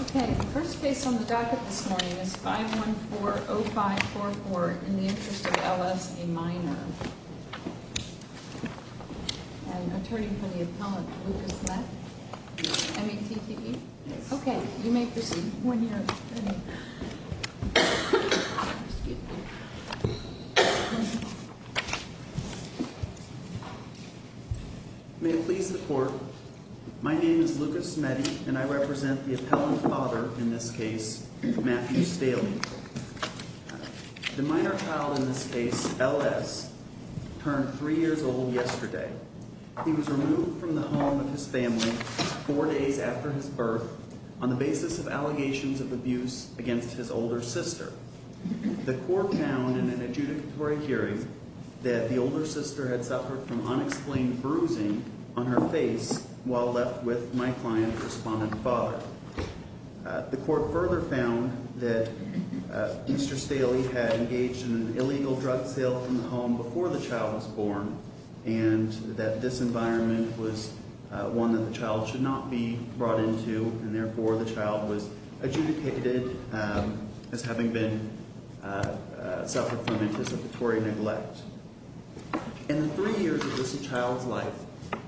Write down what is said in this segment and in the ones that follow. Okay, the first case on the docket this morning is 514-0544, In the Interest of L.S., a minor. An attorney from the appellate, Lucas Mette? M-E-T-T-E? Yes. Okay, you may proceed when you're ready. Excuse me. May it please the court, my name is Lucas Mette and I represent the appellant father in this case, Matthew Staley. The minor child in this case, L.S., turned three years old yesterday. He was removed from the home of his family four days after his birth on the basis of allegations of abuse against his older sister. The court found in an adjudicatory hearing that the older sister had suffered from unexplained bruising on her face while left with my client's respondent father. The court further found that Mr. Staley had engaged in an illegal drug sale from the home before the child was born, and that this environment was one that the child should not be brought into, and therefore the child was adjudicated as having suffered from anticipatory neglect. In the three years of this child's life,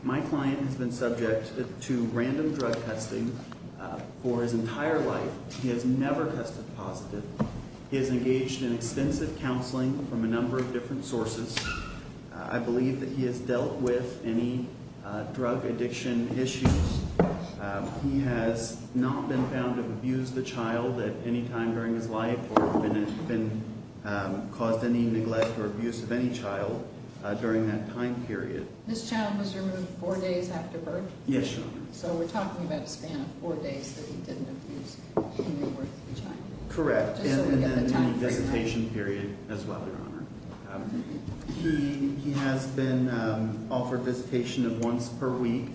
my client has been subject to random drug testing for his entire life. He has never tested positive. He has engaged in extensive counseling from a number of different sources. I believe that he has dealt with any drug addiction issues. He has not been found to have abused the child at any time during his life, or been caused any neglect or abuse of any child during that time period. This child was removed four days after birth? Yes, Your Honor. So we're talking about a span of four days that he didn't abuse the child? Correct, and then a visitation period as well, Your Honor. He has been offered visitation of once per week.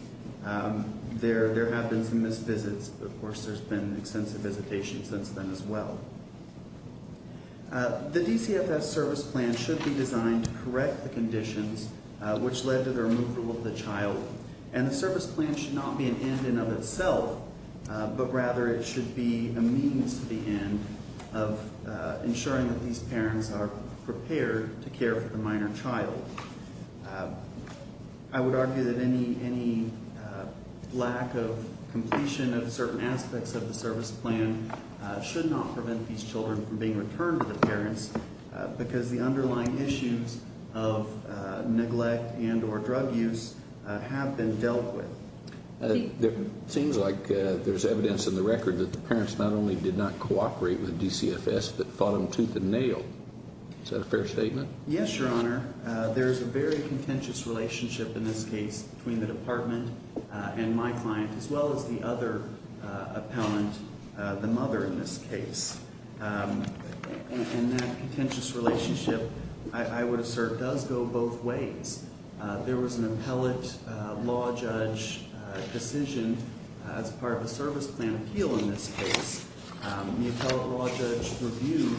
There have been some missed visits, but of course there's been extensive visitation since then as well. The DCFS service plan should be designed to correct the conditions which led to the removal of the child, and the service plan should not be an end in and of itself, but rather it should be a means to the end of ensuring that these parents are prepared to care for the minor child. I would argue that any lack of completion of certain aspects of the service plan should not prevent these children from being returned to the parents because the underlying issues of neglect and or drug use have been dealt with. It seems like there's evidence in the record that the parents not only did not cooperate with DCFS, but fought them tooth and nail. Is that a fair statement? Yes, Your Honor. There's a very contentious relationship in this case between the department and my client, as well as the other appellant, the mother in this case. And that contentious relationship, I would assert, does go both ways. There was an appellate law judge decision as part of a service plan appeal in this case. The appellate law judge reviewed,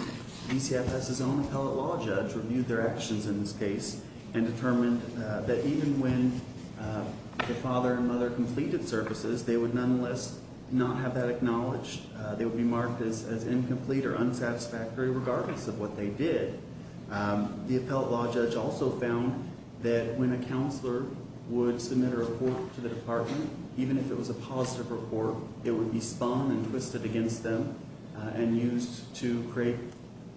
DCFS's own appellate law judge reviewed their actions in this case and determined that even when the father and mother completed services, they would nonetheless not have that acknowledged. They would be marked as incomplete or unsatisfactory regardless of what they did. The appellate law judge also found that when a counselor would submit a report to the department, even if it was a positive report, it would be spun and twisted against them and used to create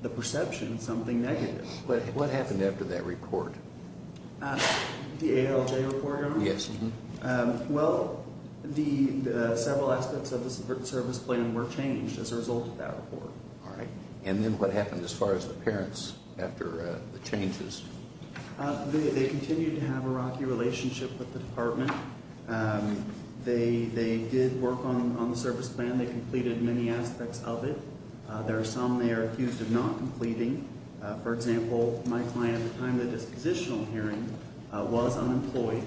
the perception something negative. What happened after that report? The ALJ report, Your Honor? Yes. Well, the several aspects of the service plan were changed as a result of that report. All right. And then what happened as far as the parents after the changes? They continued to have a rocky relationship with the department. They did work on the service plan. They completed many aspects of it. There are some they are accused of not completing. For example, my client at the time of the dispositional hearing was unemployed.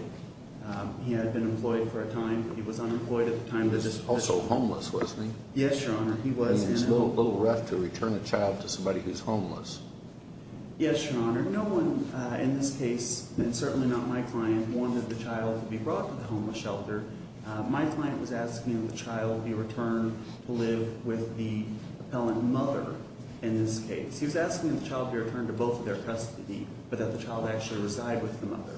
He had been employed for a time. He was unemployed at the time of the dispositional hearing. He was also homeless, wasn't he? Yes, Your Honor, he was. He was a little rough to return a child to somebody who's homeless. Yes, Your Honor. No one in this case, and certainly not my client, wanted the child to be brought to the homeless shelter. My client was asking the child be returned to live with the appellant mother in this case. He was asking the child be returned to both of their custody, but that the child actually reside with the mother.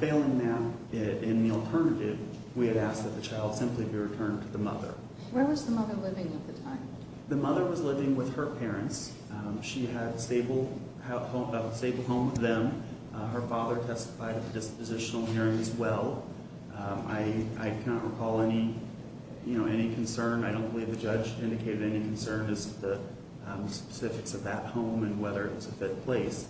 Failing that, in the alternative, we had asked that the child simply be returned to the mother. Where was the mother living at the time? The mother was living with her parents. She had a stable home with them. Her father testified at the dispositional hearing as well. I cannot recall any concern. I don't believe the judge indicated any concern as to the specifics of that home and whether it's a fit place.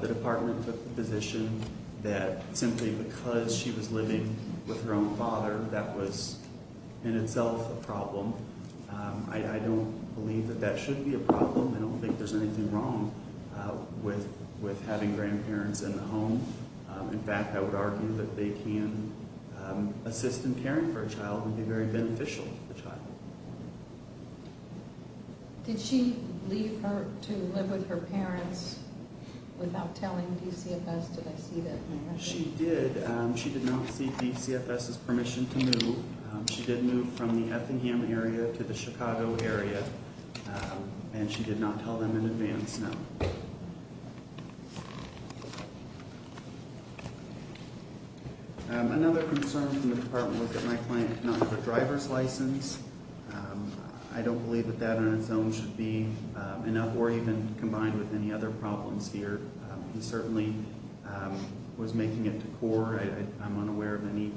The department took the position that simply because she was living with her own father, that was in itself a problem. I don't believe that that should be a problem. I don't think there's anything wrong with having grandparents in the home. In fact, I would argue that they can assist in caring for a child and be very beneficial to the child. Did she leave to live with her parents without telling DCFS? She did. She did not seek DCFS's permission to move. She did move from the Effingham area to the Chicago area, and she did not tell them in advance, no. Another concern from the department was that my client did not have a driver's license. I don't believe that that on its own should be enough, or even combined with any other problems here. He certainly was making it to CORE. I'm unaware of any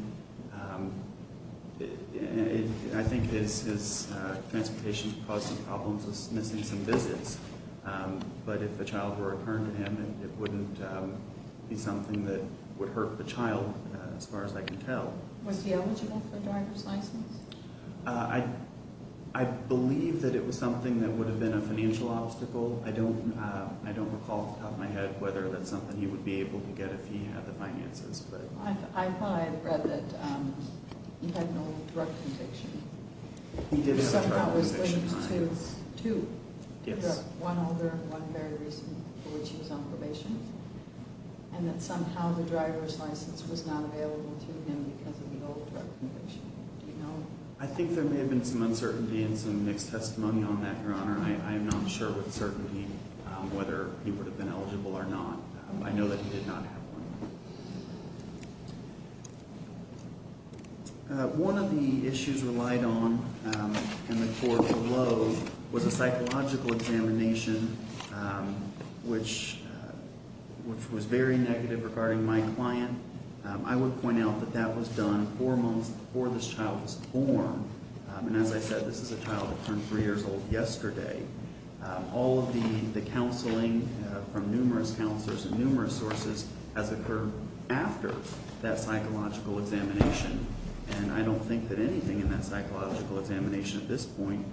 – I think his transportation caused some problems, was missing some visits. But if a child were to return to him, it wouldn't be something that would hurt the child, as far as I can tell. Was he eligible for a driver's license? I believe that it was something that would have been a financial obstacle. I don't recall off the top of my head whether that's something he would be able to get if he had the finances. I thought I had read that he had no drug conviction. He did have a drug conviction. Somehow it was linked to two. Yes. One older and one very recent, for which he was on probation. And that somehow the driver's license was not available to him because of the old drug conviction. Do you know? I think there may have been some uncertainty and some mixed testimony on that, Your Honor. I am not sure with certainty whether he would have been eligible or not. I know that he did not have one. One of the issues relied on in the court below was a psychological examination, which was very negative regarding my client. I would point out that that was done four months before this child was born. And as I said, this is a child that turned three years old yesterday. All of the counseling from numerous counselors and numerous sources has occurred after that psychological examination. And I don't think that anything in that psychological examination at this point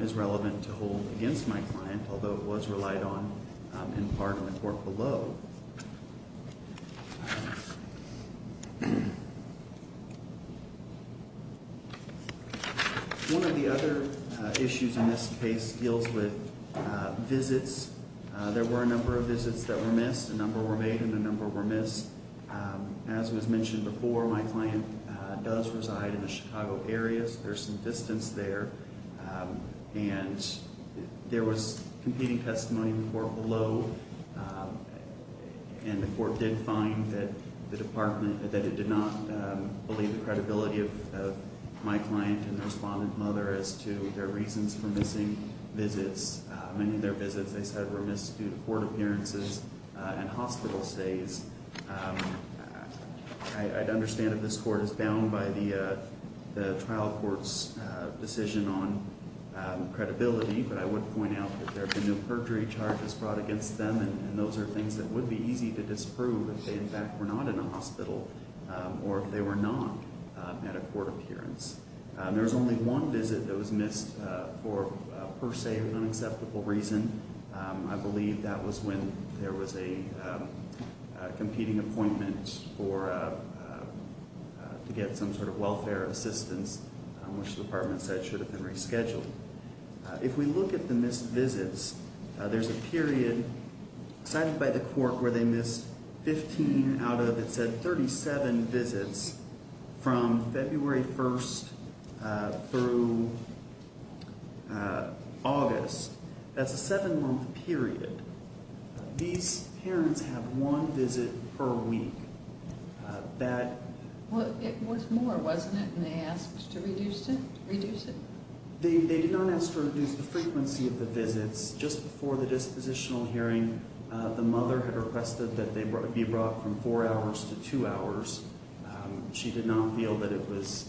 is relevant to hold against my client, although it was relied on in part in the court below. One of the other issues in this case deals with visits. There were a number of visits that were missed. A number were made and a number were missed. As was mentioned before, my client does reside in the Chicago area, so there's some distance there. And there was competing testimony in the court below, and the court did find that the department, that it did not believe the credibility of my client and the respondent mother as to their reasons for missing visits. Many of their visits, they said, were missed due to court appearances and hospital stays. I'd understand if this court is bound by the trial court's decision on credibility, but I would point out that there have been no perjury charges brought against them, and those are things that would be easy to disprove if they, in fact, were not in a hospital or if they were not at a court appearance. There was only one visit that was missed for, per se, an unacceptable reason. I believe that was when there was a competing appointment to get some sort of welfare assistance, which the department said should have been rescheduled. If we look at the missed visits, there's a period cited by the court where they missed 15 out of, it said, 37 visits from February 1st through August. That's a seven-month period. These parents have one visit per week. It was more, wasn't it, when they asked to reduce it? They did not ask to reduce the frequency of the visits. Just before the dispositional hearing, the mother had requested that they be brought from four hours to two hours. She did not feel that it was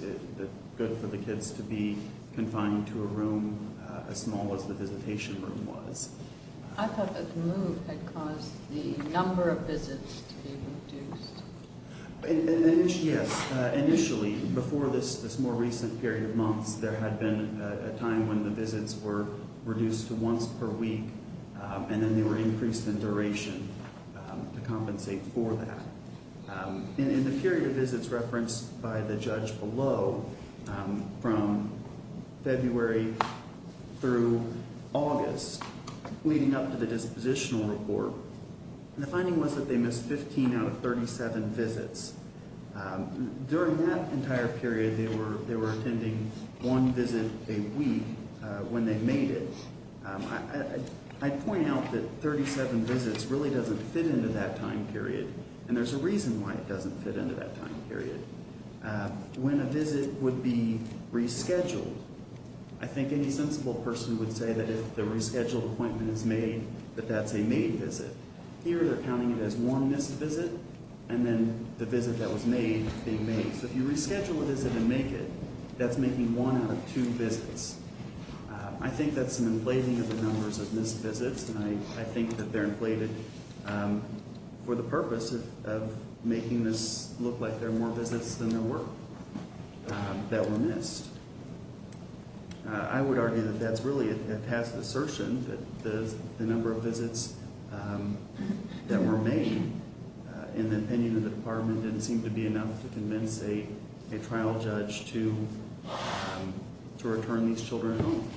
good for the kids to be confined to a room as small as the visitation room was. I thought that the move had caused the number of visits to be reduced. Yes. Initially, before this more recent period of months, there had been a time when the visits were reduced to once per week, and then they were increased in duration to compensate for that. In the period of visits referenced by the judge below, from February through August, leading up to the dispositional report, the finding was that they missed 15 out of 37 visits. During that entire period, they were attending one visit a week when they made it. I point out that 37 visits really doesn't fit into that time period, and there's a reason why it doesn't fit into that time period. When a visit would be rescheduled, I think any sensible person would say that if the rescheduled appointment is made, that that's a made visit. Here, they're counting it as one missed visit, and then the visit that was made being made. So if you reschedule a visit and make it, that's making one out of two visits. I think that's an inflating of the numbers of missed visits, and I think that they're inflated for the purpose of making this look like there are more visits than there were that were missed. I would argue that that's really a passive assertion, that the number of visits that were made in the opinion of the department didn't seem to be enough to convince a trial judge to return these children home.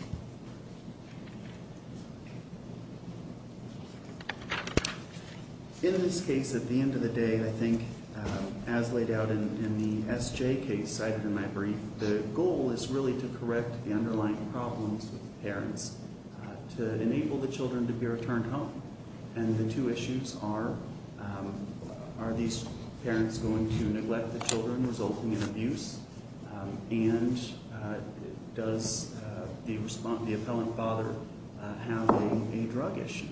In this case, at the end of the day, I think as laid out in the SJ case cited in my brief, the goal is really to correct the underlying problems with the parents, to enable the children to be returned home. And the two issues are, are these parents going to neglect the children, resulting in abuse? And does the appellant father have a drug issue?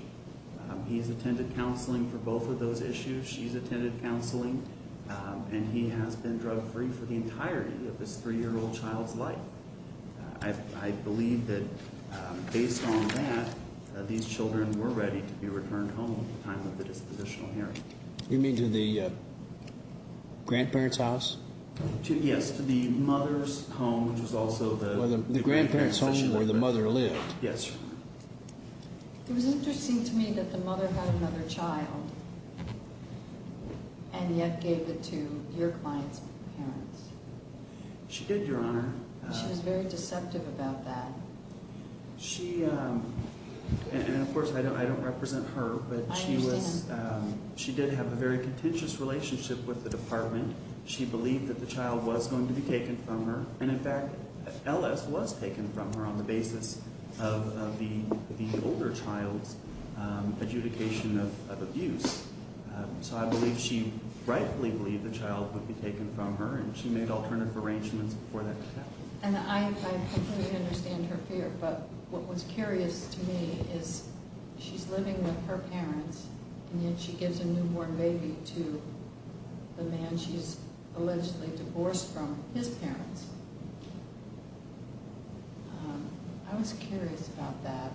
He's attended counseling for both of those issues. She's attended counseling, and he has been drug-free for the entirety of this three-year-old child's life. I believe that based on that, these children were ready to be returned home at the time of the dispositional hearing. You mean to the grandparent's house? Yes, to the mother's home, which was also the grandparent's home where the mother lived. Yes, sir. It was interesting to me that the mother had another child and yet gave it to your client's parents. She did, Your Honor. She was very deceptive about that. She, and of course I don't represent her, but she did have a very contentious relationship with the department. She believed that the child was going to be taken from her, and in fact, Ellis was taken from her on the basis of the older child's adjudication of abuse. So I believe she rightfully believed the child would be taken from her, and she made alternative arrangements before that could happen. And I completely understand her fear, but what was curious to me is she's living with her parents, and yet she gives a newborn baby to the man she's allegedly divorced from, his parents. I was curious about that.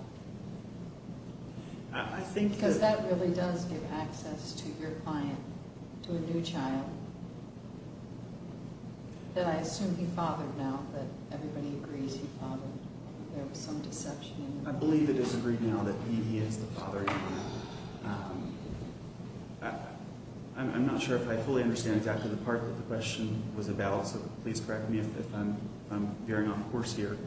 I think that... Because that really does give access to your client, to a new child, that I assume he fathered now, that everybody agrees he fathered. There was some deception. I believe it is agreed now that he is the father. I'm not sure if I fully understand exactly the part that the question was about, so please correct me if I'm veering off course here.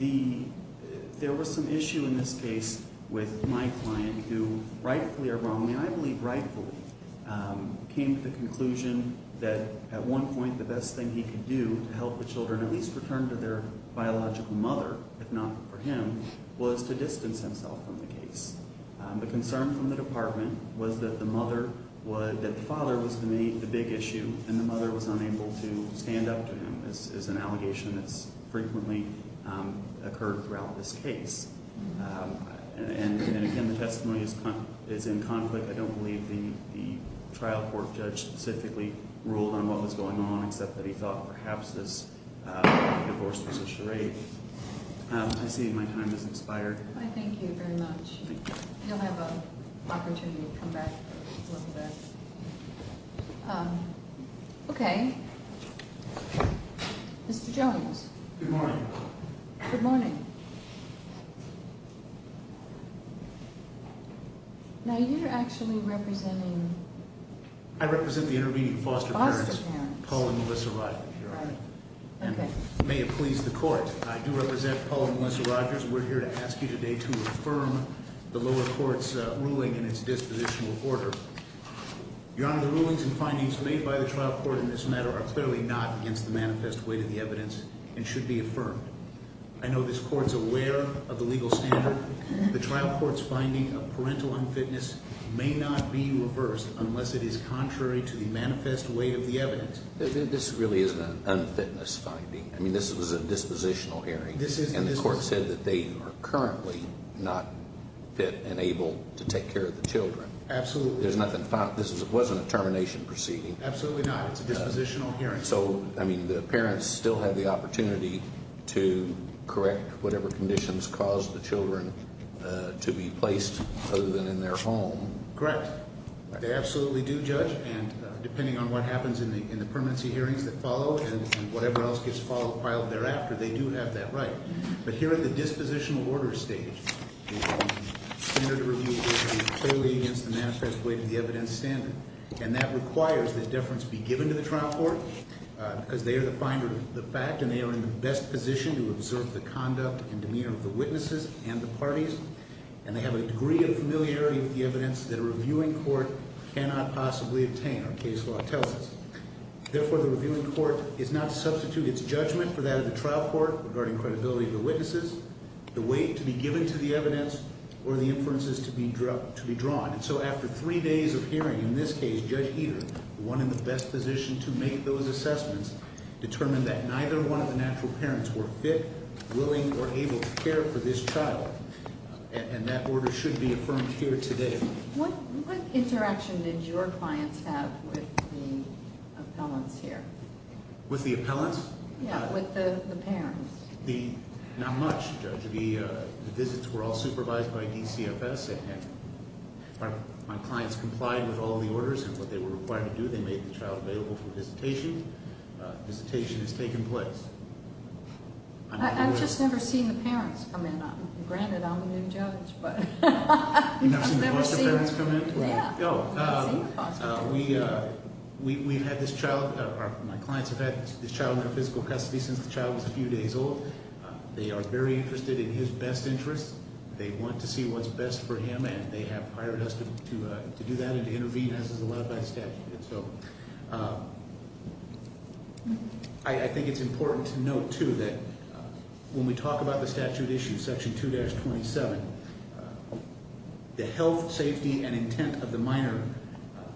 There was some issue in this case with my client who rightfully or wrongly, I believe rightfully, came to the conclusion that at one point the best thing he could do to help the children at least return to their biological mother, if not for him, was to distance himself from the case. The concern from the department was that the father was the big issue, and the mother was unable to stand up to him, as an allegation that's frequently occurred throughout this case. And again, the testimony is in conflict. I don't believe the trial court judge specifically ruled on what was going on, except that he thought perhaps this divorce was a charade. I see my time has expired. I thank you very much. You'll have an opportunity to come back a little bit. Okay. Mr. Jones. Good morning. Good morning. Good morning. Now, you're actually representing? I represent the intervening foster parents, Paul and Melissa Rodgers, Your Honor. Okay. And may it please the court, I do represent Paul and Melissa Rodgers. We're here to ask you today to affirm the lower court's ruling in its dispositional order. Your Honor, the rulings and findings made by the trial court in this matter are clearly not against the manifest weight of the evidence and should be affirmed. I know this court's aware of the legal standard. The trial court's finding of parental unfitness may not be reversed unless it is contrary to the manifest weight of the evidence. This really isn't an unfitness finding. I mean, this was a dispositional hearing. This is. And the court said that they are currently not fit and able to take care of the children. Absolutely. There's nothing, this wasn't a termination proceeding. Absolutely not. It's a dispositional hearing. So, I mean, the parents still have the opportunity to correct whatever conditions caused the children to be placed other than in their home. Correct. They absolutely do, Judge. And depending on what happens in the permanency hearings that follow and whatever else gets followed prior or thereafter, they do have that right. But here in the dispositional order stage, the standard of review is clearly against the manifest weight of the evidence standard. And that requires that deference be given to the trial court, because they are the finder of the fact, and they are in the best position to observe the conduct and demeanor of the witnesses and the parties. And they have a degree of familiarity with the evidence that a reviewing court cannot possibly obtain, our case law tells us. Therefore, the reviewing court is not to substitute its judgment for that of the trial court regarding credibility of the witnesses, the weight to be given to the evidence, or the inferences to be drawn. And so after three days of hearing, in this case, Judge Heater, the one in the best position to make those assessments, determined that neither one of the natural parents were fit, willing, or able to care for this child. And that order should be affirmed here today. What interaction did your clients have with the appellants here? With the appellants? Yeah, with the parents. Not much, Judge. The visits were all supervised by DCFS. My clients complied with all the orders and what they were required to do. They made the child available for visitation. Visitation has taken place. I've just never seen the parents come in. Granted, I'm the new judge, but I've never seen them. You've never seen the foster parents come in? Yeah. Oh. We've had this child, my clients have had this child under physical custody since the child was a few days old. They are very interested in his best interests. They want to see what's best for him, and they have hired us to do that and to intervene as is allowed by the statute. And so I think it's important to note, too, that when we talk about the statute issue, section 2-27, the health, safety, and intent of the minor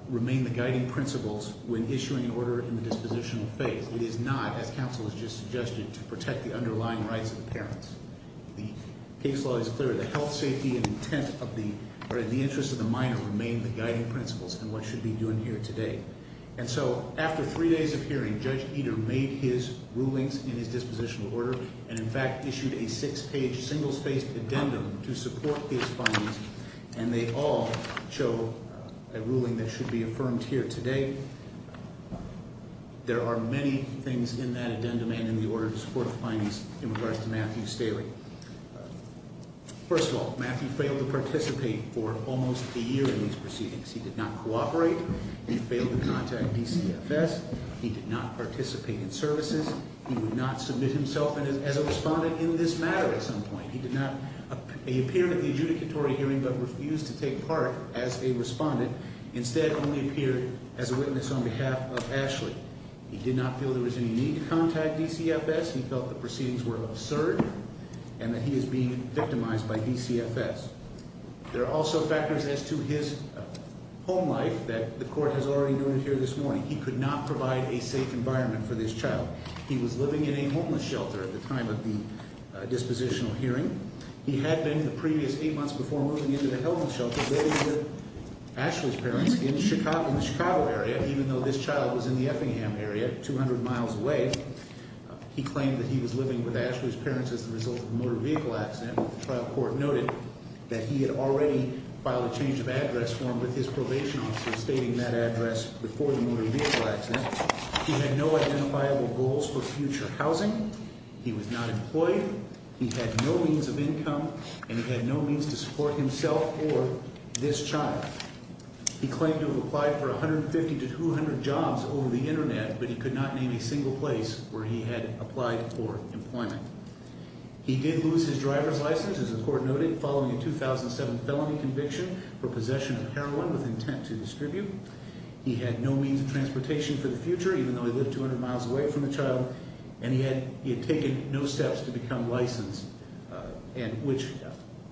remain the guiding principles when issuing an order in the dispositional phase. It is not, as counsel has just suggested, to protect the underlying rights of the parents. The case law is clear. The health, safety, and intent in the interest of the minor remain the guiding principles in what should be done here today. And so after three days of hearing, Judge Eder made his rulings in his dispositional order and, in fact, issued a six-page, single-spaced addendum to support his findings, and they all show a ruling that should be affirmed here today. There are many things in that addendum and in the order to support the findings in regards to Matthew Staley. First of all, Matthew failed to participate for almost a year in these proceedings. He did not cooperate. He failed to contact DCFS. He did not participate in services. He would not submit himself as a respondent in this matter at some point. He appeared at the adjudicatory hearing but refused to take part as a respondent. Instead, only appeared as a witness on behalf of Ashley. He did not feel there was any need to contact DCFS. He felt the proceedings were absurd and that he is being victimized by DCFS. There are also factors as to his home life that the court has already noted here this morning. He could not provide a safe environment for this child. He was living in a homeless shelter at the time of the dispositional hearing. He had been the previous eight months before moving into the homeless shelter living with Ashley's parents in the Chicago area, even though this child was in the Effingham area, 200 miles away. He claimed that he was living with Ashley's parents as a result of a motor vehicle accident. The trial court noted that he had already filed a change of address form with his probation officer, stating that address before the motor vehicle accident. He had no identifiable goals for future housing. He was not employed. He had no means of income, and he had no means to support himself or this child. He claimed to have applied for 150 to 200 jobs over the Internet, but he could not name a single place where he had applied for employment. He did lose his driver's license, as the court noted, following a 2007 felony conviction for possession of heroin with intent to distribute. He had no means of transportation for the future, even though he lived 200 miles away from the child, and he had taken no steps to become licensed, which,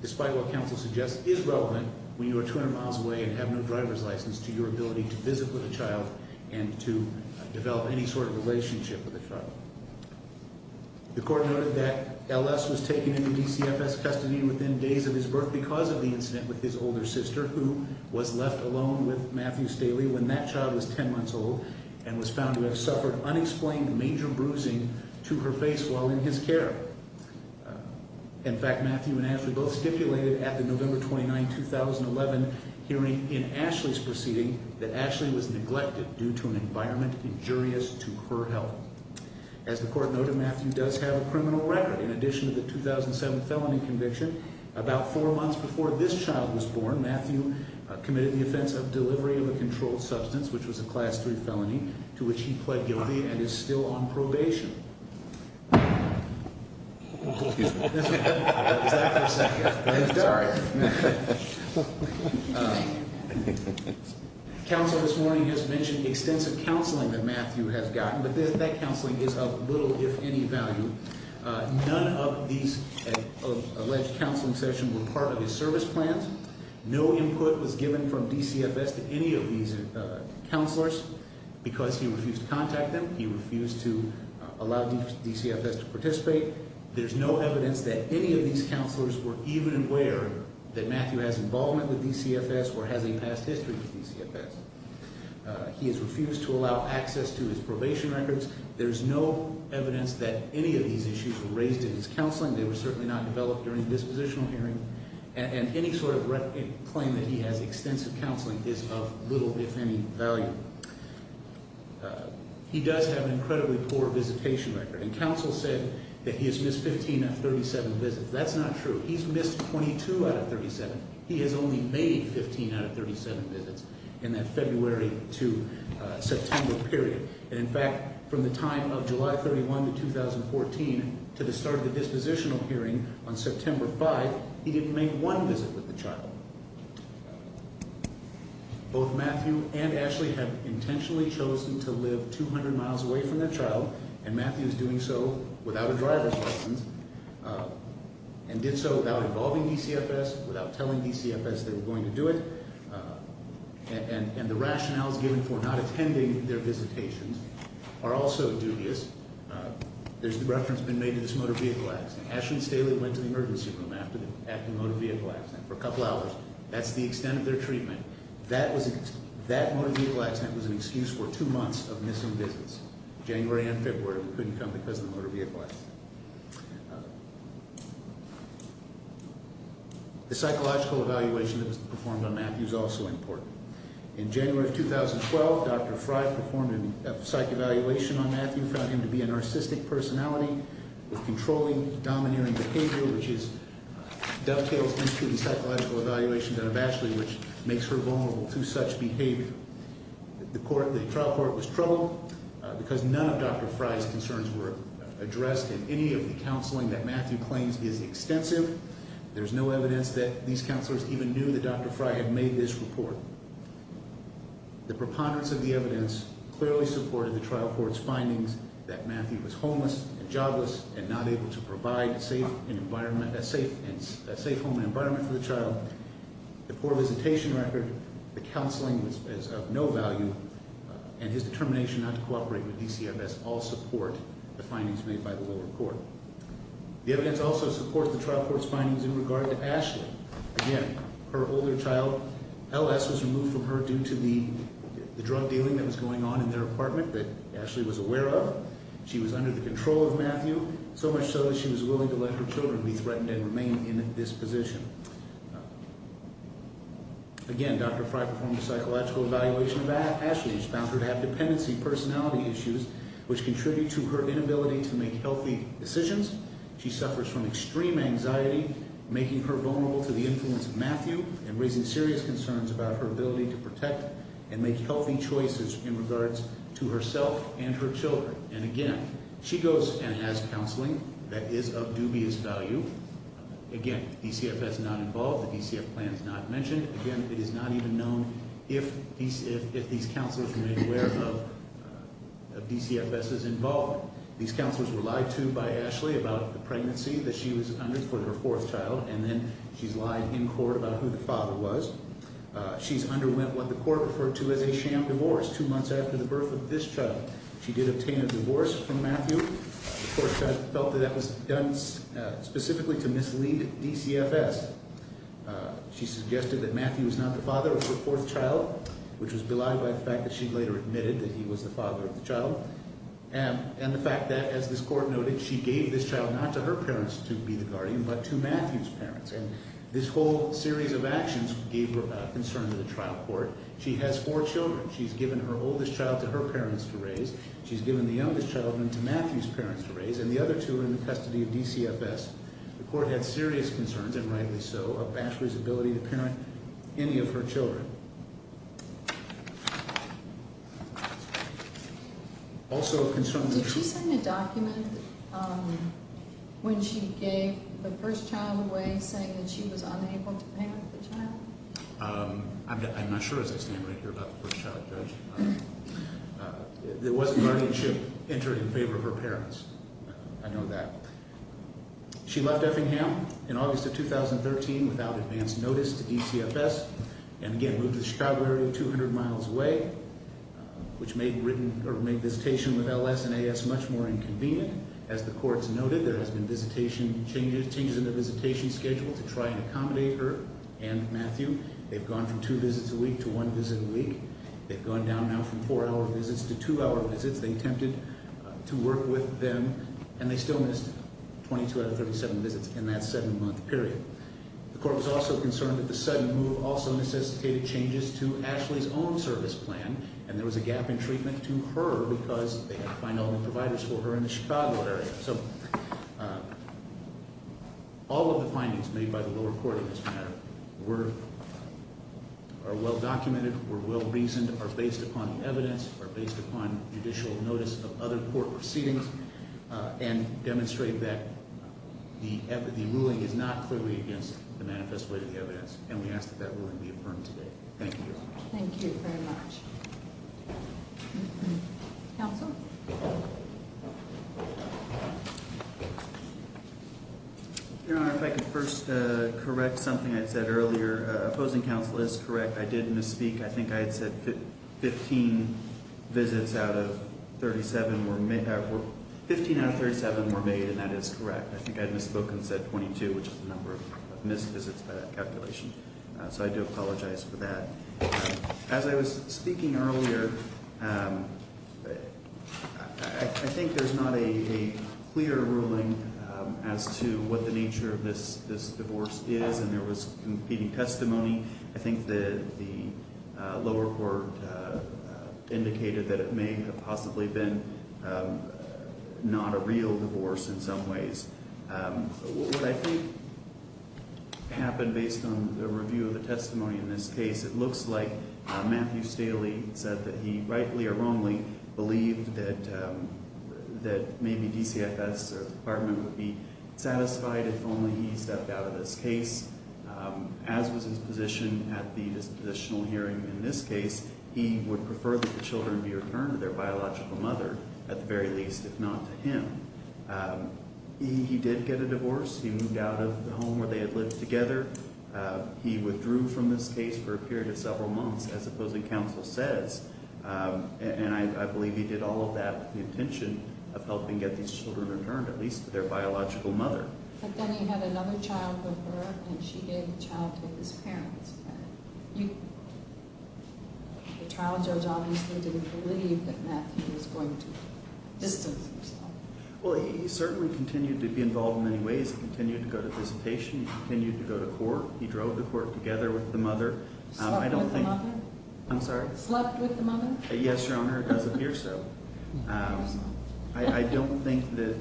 despite what counsel suggests, is relevant when you are 200 miles away and have no driver's license to your ability to visit with a child and to develop any sort of relationship with a child. The court noted that LS was taken into DCFS custody within days of his birth because of the incident with his older sister, who was left alone with Matthew Staley when that child was 10 months old and was found to have suffered unexplained major bruising to her face while in his care. In fact, Matthew and Ashley both stipulated at the November 29, 2011 hearing in Ashley's proceeding that Ashley was neglected due to an environment injurious to her health. As the court noted, Matthew does have a criminal record. In addition to the 2007 felony conviction, about four months before this child was born, Matthew committed the offense of delivery of a controlled substance, which was a Class III felony, to which he pled guilty and is still on probation. Counsel this morning has mentioned extensive counseling that Matthew has gotten, but that counseling is of little, if any, value. None of these alleged counseling sessions were part of his service plans. No input was given from DCFS to any of these counselors. Because he refused to contact them, he refused to allow DCFS to participate. There's no evidence that any of these counselors were even aware that Matthew has involvement with DCFS or has a past history with DCFS. He has refused to allow access to his probation records. There's no evidence that any of these issues were raised in his counseling. They were certainly not developed during this positional hearing. And any sort of claim that he has extensive counseling is of little, if any, value. He does have an incredibly poor visitation record. And counsel said that he has missed 15 out of 37 visits. That's not true. He's missed 22 out of 37. He has only made 15 out of 37 visits in that February to September period. And, in fact, from the time of July 31 to 2014 to the start of the dispositional hearing on September 5, he didn't make one visit with the child. Both Matthew and Ashley have intentionally chosen to live 200 miles away from their child, and Matthew is doing so without a driver's license and did so without involving DCFS, without telling DCFS they were going to do it. And the rationales given for not attending their visitations are also dubious. There's a reference been made to this motor vehicle accident. Ashley and Staley went to the emergency room after the motor vehicle accident for a couple hours. That's the extent of their treatment. That motor vehicle accident was an excuse for two months of missing visits, January and February. They couldn't come because of the motor vehicle accident. The psychological evaluation that was performed on Matthew is also important. In January of 2012, Dr. Frey performed a psych evaluation on Matthew, found him to be a narcissistic personality with controlling, domineering behavior, which dovetails into the psychological evaluation done on Ashley, which makes her vulnerable to such behavior. The trial court was troubled because none of Dr. Frey's concerns were addressed in any of the counseling that Matthew claims is extensive. There's no evidence that these counselors even knew that Dr. Frey had made this report. The preponderance of the evidence clearly supported the trial court's findings that Matthew was homeless and jobless and not able to provide a safe home and environment for the child. The poor visitation record, the counseling was of no value, and his determination not to cooperate with DCFS all support the findings made by the lower court. The evidence also supports the trial court's findings in regard to Ashley. Again, her older child, LS, was removed from her due to the drug dealing that was going on in their apartment that Ashley was aware of. She was under the control of Matthew, so much so that she was willing to let her children be threatened and remain in this position. Again, Dr. Frey performed a psychological evaluation of Ashley. She found her to have dependency personality issues, which contribute to her inability to make healthy decisions. She suffers from extreme anxiety, making her vulnerable to the influence of Matthew and raising serious concerns about her ability to protect and make healthy choices in regards to herself and her children. And again, she goes and has counseling that is of dubious value. Again, DCFS is not involved. The DCFS plan is not mentioned. Again, it is not even known if these counselors were made aware of DCFS's involvement. These counselors were lied to by Ashley about the pregnancy that she was under for her fourth child and then she's lied in court about who the father was. She's underwent what the court referred to as a sham divorce two months after the birth of this child. She did obtain a divorce from Matthew. The court felt that that was done specifically to mislead DCFS. She suggested that Matthew was not the father of her fourth child, which was belied by the fact that she later admitted that he was the father of the child. And the fact that, as this court noted, she gave this child not to her parents to be the guardian but to Matthew's parents. And this whole series of actions gave her a concern to the trial court. She has four children. She's given her oldest child to her parents to raise. She's given the youngest child to Matthew's parents to raise, and the other two are in the custody of DCFS. The court had serious concerns, and rightly so, of Ashley's ability to parent any of her children. Did she send a document when she gave the first child away saying that she was unable to parent the child? I'm not sure as I stand right here about the first child, Judge. There was a guardianship entered in favor of her parents. I know that. She left Effingham in August of 2013 without advance notice to DCFS and, again, moved to the Chicago area 200 miles away, which made visitation with LS and AS much more inconvenient. As the courts noted, there has been changes in the visitation schedule to try and accommodate her and Matthew. They've gone from two visits a week to one visit a week. They've gone down now from four-hour visits to two-hour visits. They attempted to work with them, and they still missed 22 out of 37 visits in that seven-month period. The court was also concerned that the sudden move also necessitated changes to Ashley's own service plan, and there was a gap in treatment to her because they had to find all the providers for her in the Chicago area. So all of the findings made by the lower court in this matter are well-documented, were well-reasoned, are based upon evidence, are based upon judicial notice of other court proceedings, and demonstrate that the ruling is not clearly against the manifest weight of the evidence, and we ask that that ruling be affirmed today. Thank you. Thank you very much. Counsel? Your Honor, if I could first correct something I said earlier. Opposing counsel is correct. I did misspeak. I think I had said 15 visits out of 37 were made, and that is correct. I think I had misspoke and said 22, which is the number of missed visits by that calculation. So I do apologize for that. As I was speaking earlier, I think there's not a clear ruling as to what the nature of this divorce is, and there was competing testimony. I think the lower court indicated that it may have possibly been not a real divorce in some ways. What I think happened based on the review of the testimony in this case, it looks like Matthew Staley said that he, rightly or wrongly, believed that maybe DCFS or the department would be satisfied if only he stepped out of this case. As was his position at the dispositional hearing in this case, he would prefer that the children be returned to their biological mother at the very least, if not to him. He did get a divorce. He moved out of the home where they had lived together. He withdrew from this case for a period of several months, as opposing counsel says, and I believe he did all of that with the intention of helping get these children returned, at least to their biological mother. But then he had another child with her, and she gave the child to his parents. The child judge obviously didn't believe that Matthew was going to distance himself. Well, he certainly continued to be involved in many ways. He continued to go to visitation. He continued to go to court. He drove to court together with the mother. Slept with the mother? I'm sorry? Slept with the mother? Yes, Your Honor, it does appear so. I don't think that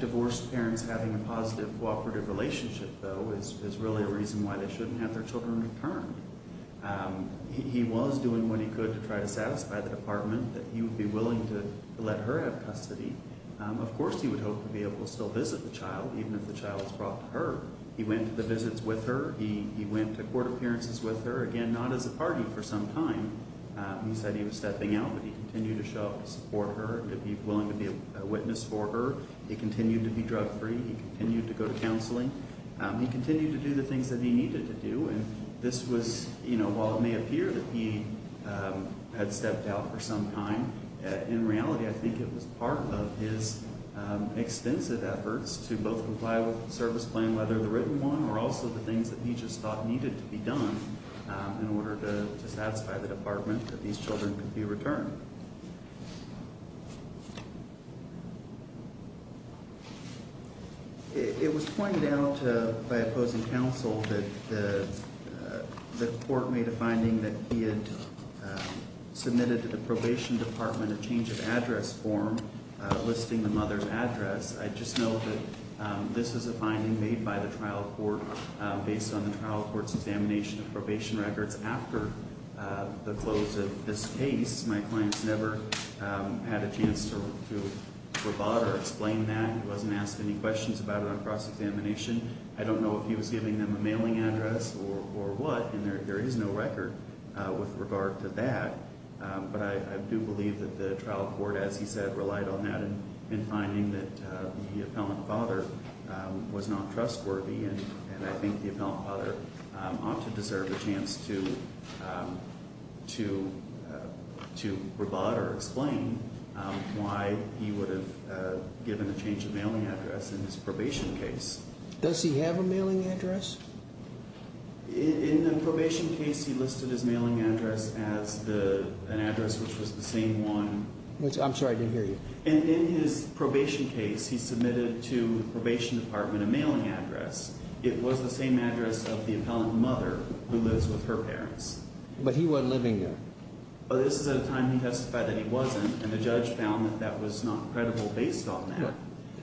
divorced parents having a positive cooperative relationship, though, is really a reason why they shouldn't have their children returned. He was doing what he could to try to satisfy the department that he would be willing to let her have custody. Of course he would hope to be able to still visit the child, even if the child was brought to her. He went to the visits with her. He went to court appearances with her, again, not as a party for some time. He said he was stepping out, but he continued to show up to support her and to be willing to be a witness for her. He continued to be drug-free. He continued to go to counseling. He continued to do the things that he needed to do. And this was, you know, while it may appear that he had stepped out for some time, in reality I think it was part of his extensive efforts to both comply with the service plan, whether the written one or also the things that he just thought needed to be done in order to satisfy the department that these children could be returned. It was pointed out by opposing counsel that the court made a finding that he had submitted to the probation department a change of address form listing the mother's address. I just know that this is a finding made by the trial court based on the trial court's examination of probation records. After the close of this case, my client's never had a chance to provide or explain that. He wasn't asked any questions about it on cross-examination. I don't know if he was giving them a mailing address or what, and there is no record with regard to that. But I do believe that the trial court, as he said, relied on that in finding that the appellant father was not trustworthy. And I think the appellant father ought to deserve a chance to provide or explain why he would have given a change of mailing address in his probation case. Does he have a mailing address? In the probation case, he listed his mailing address as an address which was the same one. I'm sorry, I didn't hear you. In his probation case, he submitted to the probation department a mailing address. It was the same address of the appellant mother who lives with her parents. But he wasn't living there. This is at a time he testified that he wasn't, and the judge found that that was not credible based on that.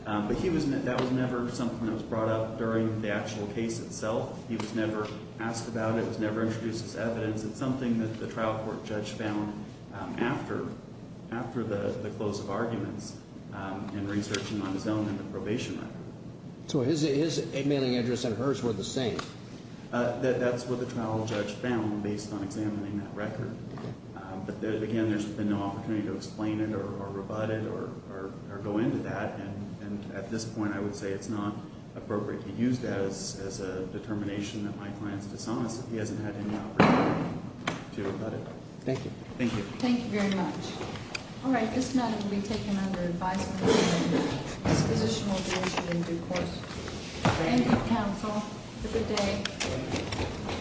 But that was never something that was brought up during the actual case itself. He was never asked about it. It was never introduced as evidence. It's something that the trial court judge found after the close of arguments and researching on his own in the probation record. So his mailing address and hers were the same? That's what the trial judge found based on examining that record. But, again, there's been no opportunity to explain it or rebut it or go into that. And at this point, I would say it's not appropriate to use that as a determination that my client is dishonest. He hasn't had any opportunity to rebut it. Thank you. Thank you. Thank you very much. All right, this matter will be taken under advisement and disposition will be issued in due course. Thank you, counsel. Have a good day.